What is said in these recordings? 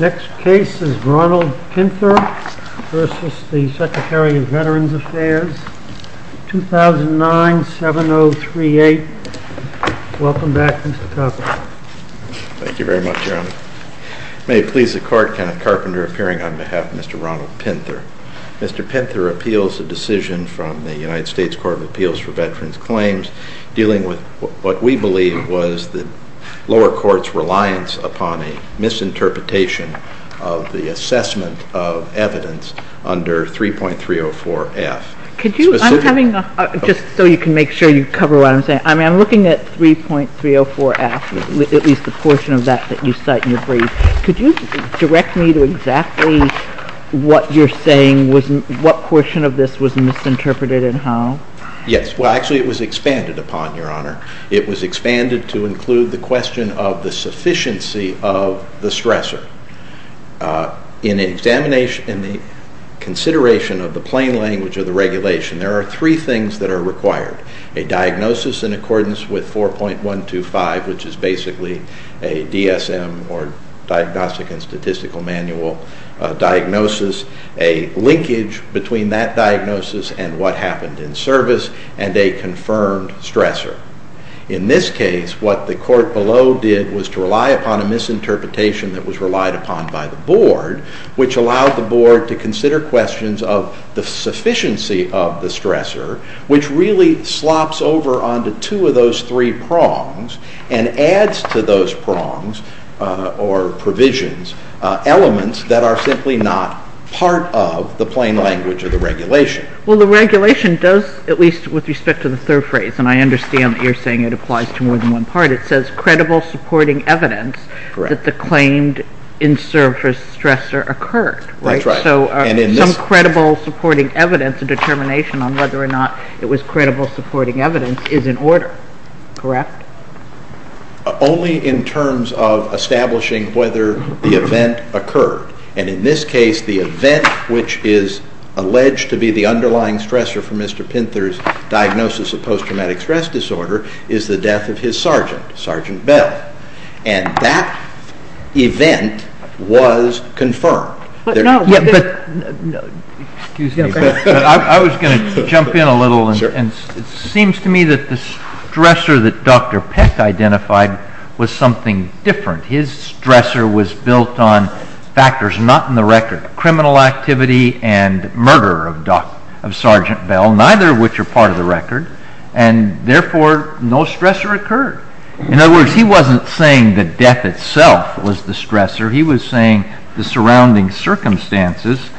Next case is Ronald Pinther v. Secretary of Veterans Affairs 2009-7038. Welcome back Mr. Carpenter. Thank you very much Your Honor. May it please the Court, Kenneth Carpenter appearing on behalf of Mr. Ronald Pinther. Mr. Pinther appeals a decision from the United States Court of Appeals for Veterans Claims dealing with what we believe was the lower court's reliance upon a misinterpretation of the assessment of evidence under 3.304F. Could you, I'm having a, just so you can make sure you cover what I'm saying, I'm looking at 3.304F, at least the portion of that that you cite in your brief. Could you direct me to exactly what you're saying was, what portion of this was misinterpreted and how? Yes, well actually it was expanded upon, Your Honor. It was expanded to include the question of the sufficiency of the stressor. In examination, in the consideration of the plain language of the regulation, there are three things that are required. A diagnosis in accordance with 4.125, which is basically a DSM, or Diagnostic and Statistical Manual, diagnosis, a linkage between that diagnosis and what happened in service, and a confirmed stressor. In this case, what the court below did was to rely upon a misinterpretation that was relied upon by the Board, which allowed the Board to consider questions of the sufficiency of the stressor, which really slops over onto two of those three prongs and adds to those prongs, or provisions, elements that are simply not part of the plain language of the regulation. Well the regulation does, at least with respect to the third phrase, and I understand that you're saying it applies to more than one part, it says credible supporting evidence that the claimed in-service stressor occurred. That's right. So some credible supporting evidence, a determination on whether or not it was credible supporting evidence, is in order, correct? Only in terms of establishing whether the event occurred. And in this case, the event which is alleged to be the underlying stressor for Mr. Pinter's diagnosis of post-traumatic stress disorder is the death of his sergeant, Sergeant Bell. And that event was confirmed. Excuse me, but I was going to jump in a little, and it seems to me that the stressor that Dr. Peck identified was something different. His stressor was built on factors not in the record, criminal activity and murder of Sergeant Bell, neither of which are part of the record, and therefore no stressor occurred. In other words, he wasn't saying that death itself was the stressor, he was saying the surrounding circumstances,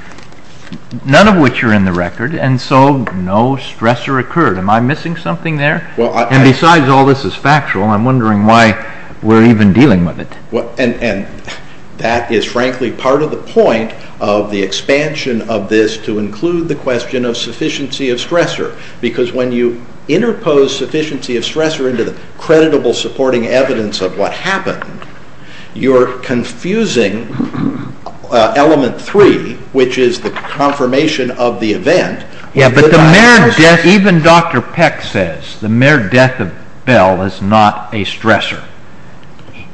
none of which are in the record, and so no stressor occurred. Am I missing something there? And besides all this is factual, I'm wondering why we're even dealing with it. And that is frankly part of the point of the expansion of this to include the question of sufficiency of stressor, because when you interpose sufficiency of stressor into the confusing element three, which is the confirmation of the event... Yeah, but even Dr. Peck says the mere death of Bell is not a stressor.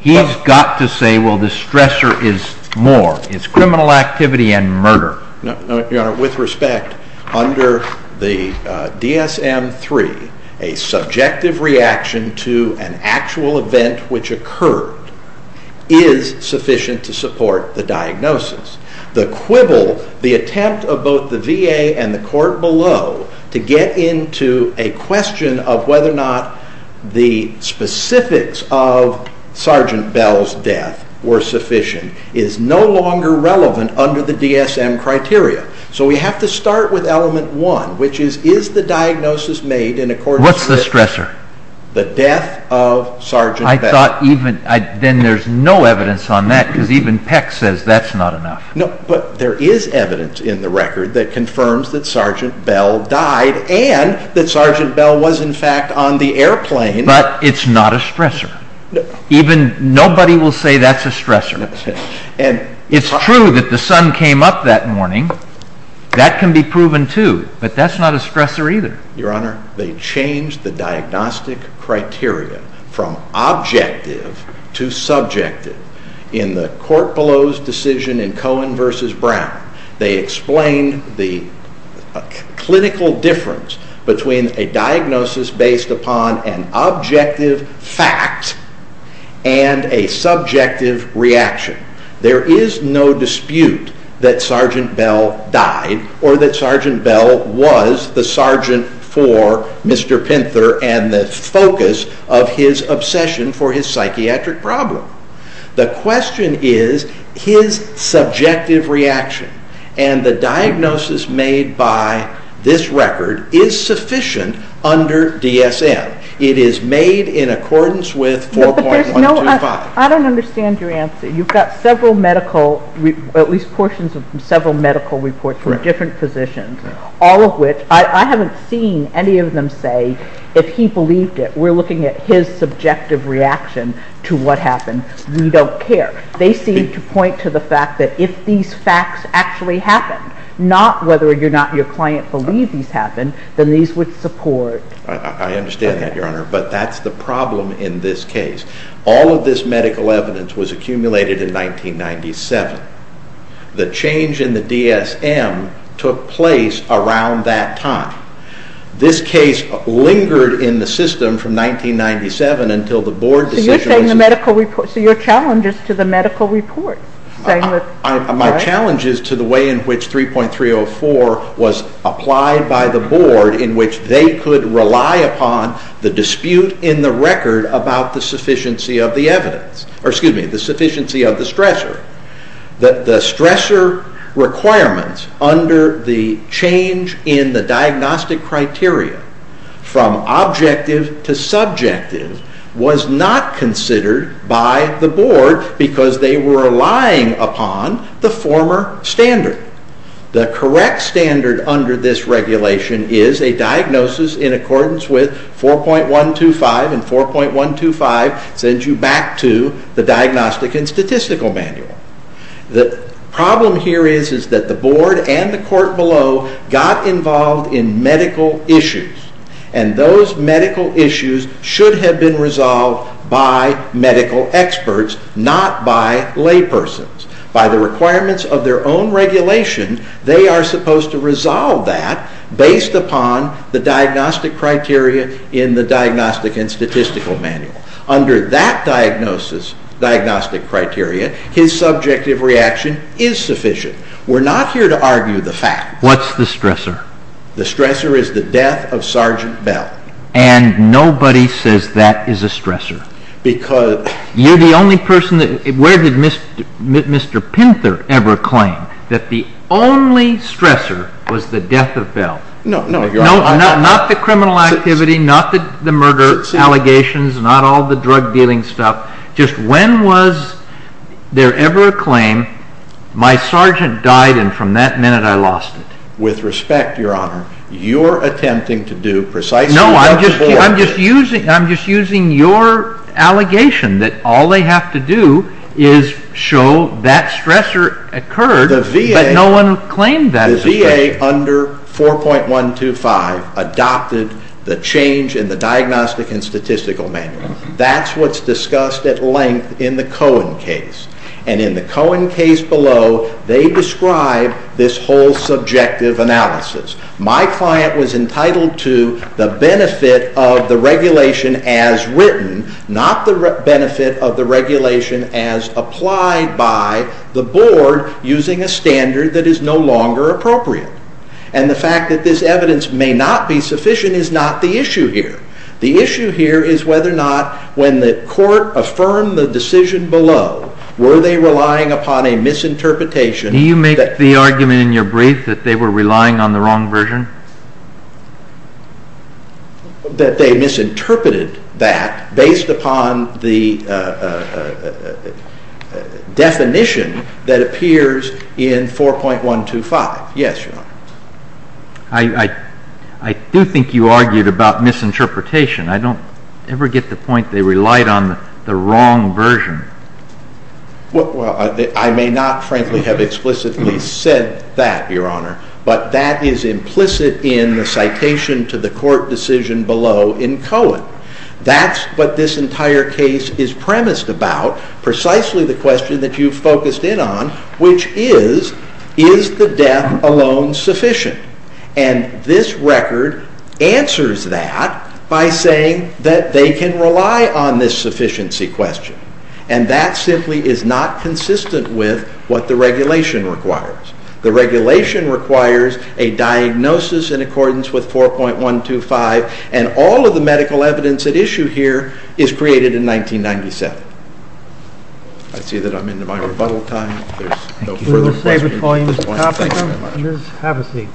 He's got to say, well, the stressor is more. It's criminal activity and murder. With respect, under the DSM-III, a subjective reaction to an actual event which occurred is sufficient to support the diagnosis. The quibble, the attempt of both the VA and the court below to get into a question of whether or not the specifics of Sergeant Bell's death were sufficient is no longer relevant under the DSM criteria. So we have to start with element one, which is, is the diagnosis made in accordance with... What's the stressor? The death of Sergeant Bell. Then there's no evidence on that, because even Peck says that's not enough. No, but there is evidence in the record that confirms that Sergeant Bell died and that Sergeant Bell was in fact on the airplane... But it's not a stressor. Nobody will say that's a stressor. It's true that the sun came up that morning. That can be proven too, but that's not a stressor either. Your Honor, they changed the diagnostic criteria from objective to subjective. In the court below's decision in Cohen v. Brown, they explained the clinical difference between a diagnosis based upon an objective fact and a subjective reaction. There is no dispute that Sergeant Bell died or that Sergeant Bell was the sergeant for Mr. Pinter and the focus of his obsession for his psychiatric problem. The question is, his subjective reaction and the diagnosis made by this record is sufficient under DSM. It is made in accordance with 4.125. I don't understand your answer. You've got several medical, at least portions of several medical reports from different physicians, all of which, I haven't seen any of them say if he believed it. We're looking at his subjective reaction to what happened. We don't care. They seem to point to the fact that if these facts actually happened, not whether or not your client believed these happened, then these would support... I understand that, Your Honor, but that's the problem in this case. All of this medical evidence was accumulated in 1997. The change in the DSM took place around that time. This case lingered in the system from 1997 until the board decision... So you're saying the medical report, so your challenge is to the medical report. My challenge is to the way in which 3.304 was applied by the board in which they could rely upon the dispute in the record about the sufficiency of the evidence, or excuse me, the sufficiency of the stressor. The stressor requirements under the change in the diagnostic criteria from objective to subjective was not considered by the board because they were relying upon the former standard. The correct standard under this regulation is a diagnosis in accordance with 4.125, and 4.125 sends you back to the Diagnostic and Statistical Manual. The problem here is that the board and the court below got involved in medical issues, and those medical issues should have been resolved by medical experts, not by laypersons. By the requirements of their own regulation, they are supposed to resolve that based upon the diagnostic criteria in the Diagnostic and Statistical Manual. Under that diagnostic criteria, his subjective reaction is sufficient. We're not here to argue the fact. What's the stressor? The stressor is the death of Sergeant Bell. And nobody says that is a stressor. Because... You're the only person that, where did Mr. Pinter ever claim that the only stressor was the death of Bell? No, no, Your Honor. Not the criminal activity, not the murder allegations, not all the drug dealing stuff. Just when was there ever a claim, my sergeant died and from that minute I lost it? With respect, Your Honor, you're attempting to do precisely what the board did. No, I'm just using your allegation that all they have to do is show that stressor occurred, but no one claimed that. The VA under 4.125 adopted the change in the Diagnostic and Statistical Manual. That's what's discussed at length in the Cohen case. And in the Cohen case below, they describe this whole subjective analysis. My client was entitled to the benefit of the regulation as written, not the benefit of the regulation as applied by the board using a standard that is no longer appropriate. And the fact that this evidence may not be sufficient is not the issue here. The issue here is whether or not when the court affirmed the decision below, were they relying upon a misinterpretation... That they misinterpreted that based upon the definition that appears in 4.125. Yes, Your Honor. I do think you argued about misinterpretation. I don't ever get the point they relied on the wrong version. Well, I may not frankly have explicitly said that, Your Honor, but that is implicit in the citation to the court decision below in Cohen. That's what this entire case is premised about, precisely the question that you focused in on, which is, is the death alone sufficient? And this record answers that by saying that they can rely on this sufficiency question. And that simply is not consistent with what the regulation requires. The regulation requires a diagnosis in accordance with 4.125, and all of the medical evidence at issue here is created in 1997. I see that I'm into my rebuttal time. We will stay with Pauline, Mr. Thompson. Have a seat.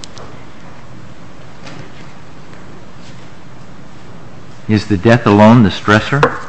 Is the death alone the stressor?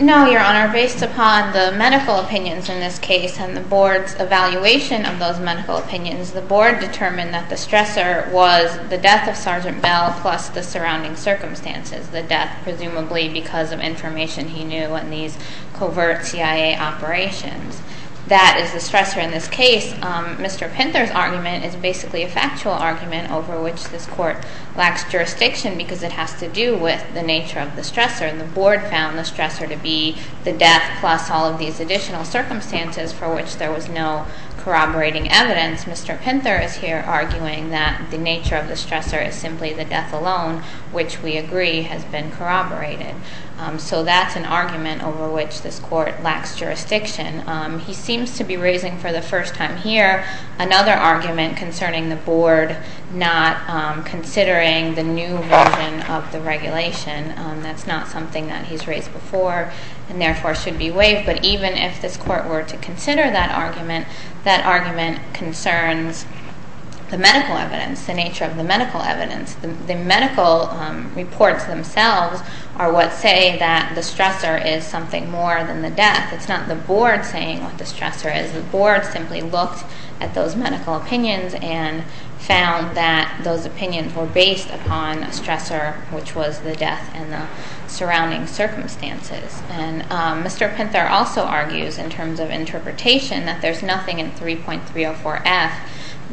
No, Your Honor. Based upon the medical opinions in this case and the board's evaluation of those medical opinions, the board determined that the stressor was the death of Sergeant Bell plus the surrounding circumstances. The death presumably because of information he knew in these covert CIA operations. That is the stressor in this case. Mr. Pinter's argument is basically a factual argument over which this court lacks jurisdiction because it has to do with the nature of the stressor. And the board found the stressor to be the death plus all of these additional circumstances for which there was no corroborating evidence. Mr. Pinter is here arguing that the nature of the stressor is simply the death alone, which we agree has been corroborated. So that's an argument over which this court lacks jurisdiction. He seems to be raising for the first time here another argument concerning the board not considering the new version of the regulation. That's not something that he's raised before and therefore should be waived. But even if this court were to consider that argument, that argument concerns the medical evidence, the nature of the medical evidence. The medical reports themselves are what say that the stressor is something more than the death. It's not the board saying what the stressor is. The board simply looked at those medical opinions and found that those opinions were based upon a stressor, which was the death and the surrounding circumstances. And Mr. Pinter also argues in terms of interpretation that there's nothing in 3.304F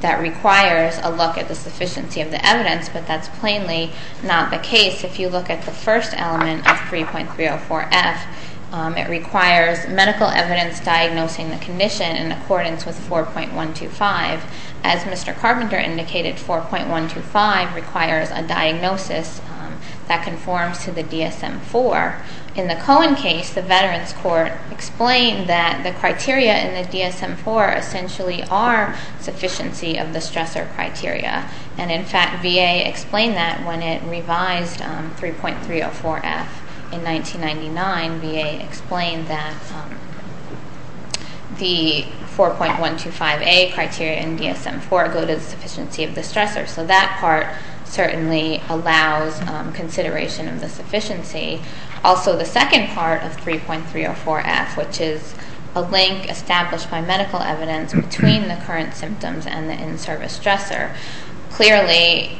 that requires a look at the sufficiency of the evidence, but that's plainly not the case. If you look at the first element of 3.304F, it requires medical evidence diagnosing the condition in accordance with 4.125. As Mr. Carpenter indicated, 4.125 requires a diagnosis that conforms to the DSM-IV. In the Cohen case, the Veterans Court explained that the criteria in the DSM-IV essentially are sufficiency of the stressor criteria. And in fact, VA explained that when it revised 3.304F in 1999. VA explained that the 4.125A criteria in DSM-IV go to the sufficiency of the stressor. So that part certainly allows consideration of the sufficiency. Also, the second part of 3.304F, which is a link established by medical evidence between the current symptoms and the in-service stressor, clearly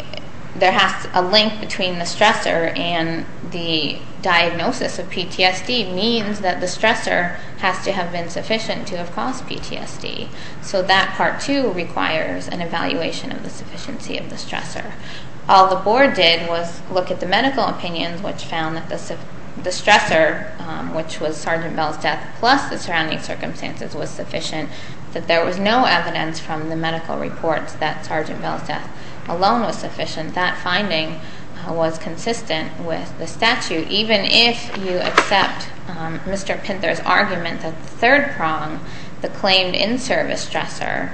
there has to be a link between the stressor and the diagnosis of PTSD means that the stressor has to have been sufficient to have caused PTSD. So that part, too, requires an evaluation of the sufficiency of the stressor. All the Board did was look at the medical opinions, which found that the stressor, which was Sergeant Bell's death plus the surrounding circumstances, was sufficient, that there was no evidence from the medical reports that Sergeant Bell's death alone was sufficient. That finding was consistent with the statute. Even if you accept Mr. Pinter's argument that the third prong, the claimed in-service stressor,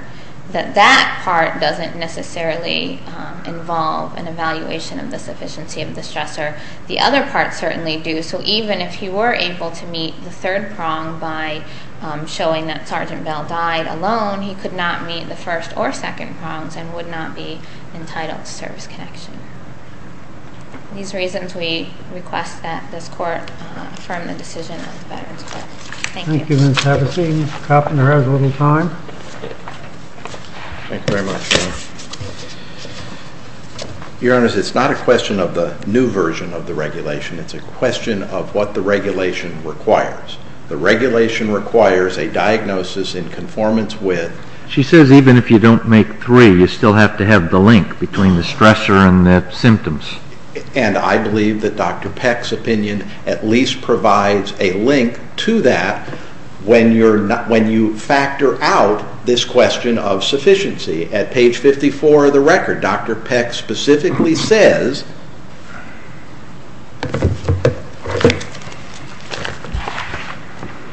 that that part doesn't necessarily involve an evaluation of the sufficiency of the stressor, the other parts certainly do. So even if he were able to meet the third prong by showing that Sergeant Bell died alone, he could not meet the first or second prongs and would not be entitled to service connection. These reasons we request that this Court affirm the decision of the Veterans Court. Thank you. Thank you, Ms. Havasey. Mr. Koppner has a little time. Thank you very much. Your Honors, it's not a question of the new version of the regulation. It's a question of what the regulation requires. The regulation requires a diagnosis in conformance with She says even if you don't make three, you still have to have the link between the stressor and the symptoms. And I believe that Dr. Peck's opinion at least provides a link to that when you factor out this question of sufficiency. At page 54 of the record, Dr. Peck specifically says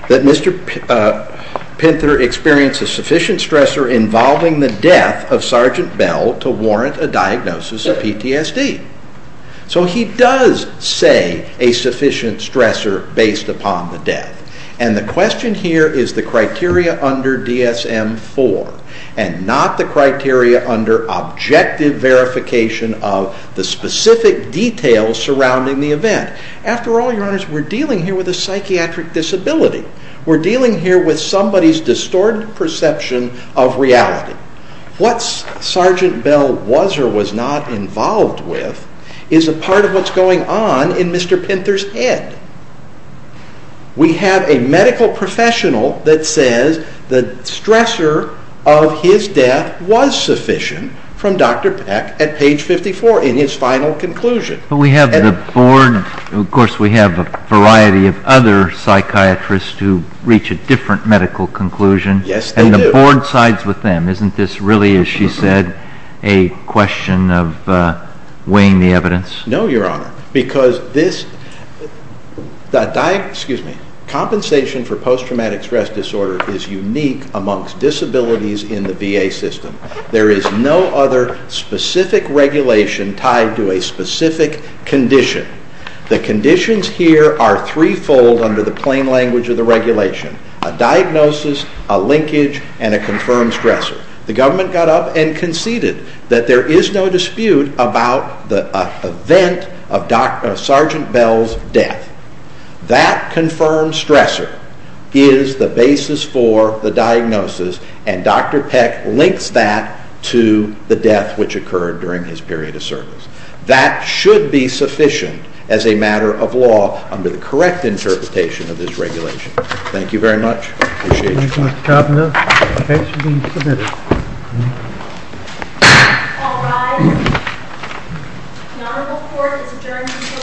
that Mr. Pinter experienced a sufficient stressor involving the death of Sergeant Bell to warrant a diagnosis of PTSD. So he does say a sufficient stressor based upon the death. And the question here is the criteria under DSM-IV and not the criteria under objective verification of the specific details surrounding the event. After all, Your Honors, we're dealing here with a psychiatric disability. We're dealing here with somebody's distorted perception of reality. What Sergeant Bell was or was not involved with is a part of what's going on in Mr. Pinter's head. We have a medical professional that says the stressor of his death was sufficient from Dr. Peck at page 54 in his final conclusion. But we have the board, and of course we have a variety of other psychiatrists who reach a different medical conclusion. Yes, they do. And the board sides with them. Isn't this really, as she said, a question of weighing the evidence? No, Your Honor, because compensation for post-traumatic stress disorder is unique amongst disabilities in the VA system. There is no other specific regulation tied to a specific condition. The conditions here are threefold under the plain language of the regulation. A diagnosis, a linkage, and a confirmed stressor. The government got up and conceded that there is no dispute about the event of Sergeant Bell's death. That confirmed stressor is the basis for the diagnosis, and Dr. Peck links that to the death which occurred during his period of service. That should be sufficient as a matter of law under the correct interpretation of this regulation. Thank you very much. Appreciate it. Thank you, Mr. Kavanaugh. The case has been submitted. All rise. The Honorable Court has adjourned until tomorrow morning at 10 o'clock.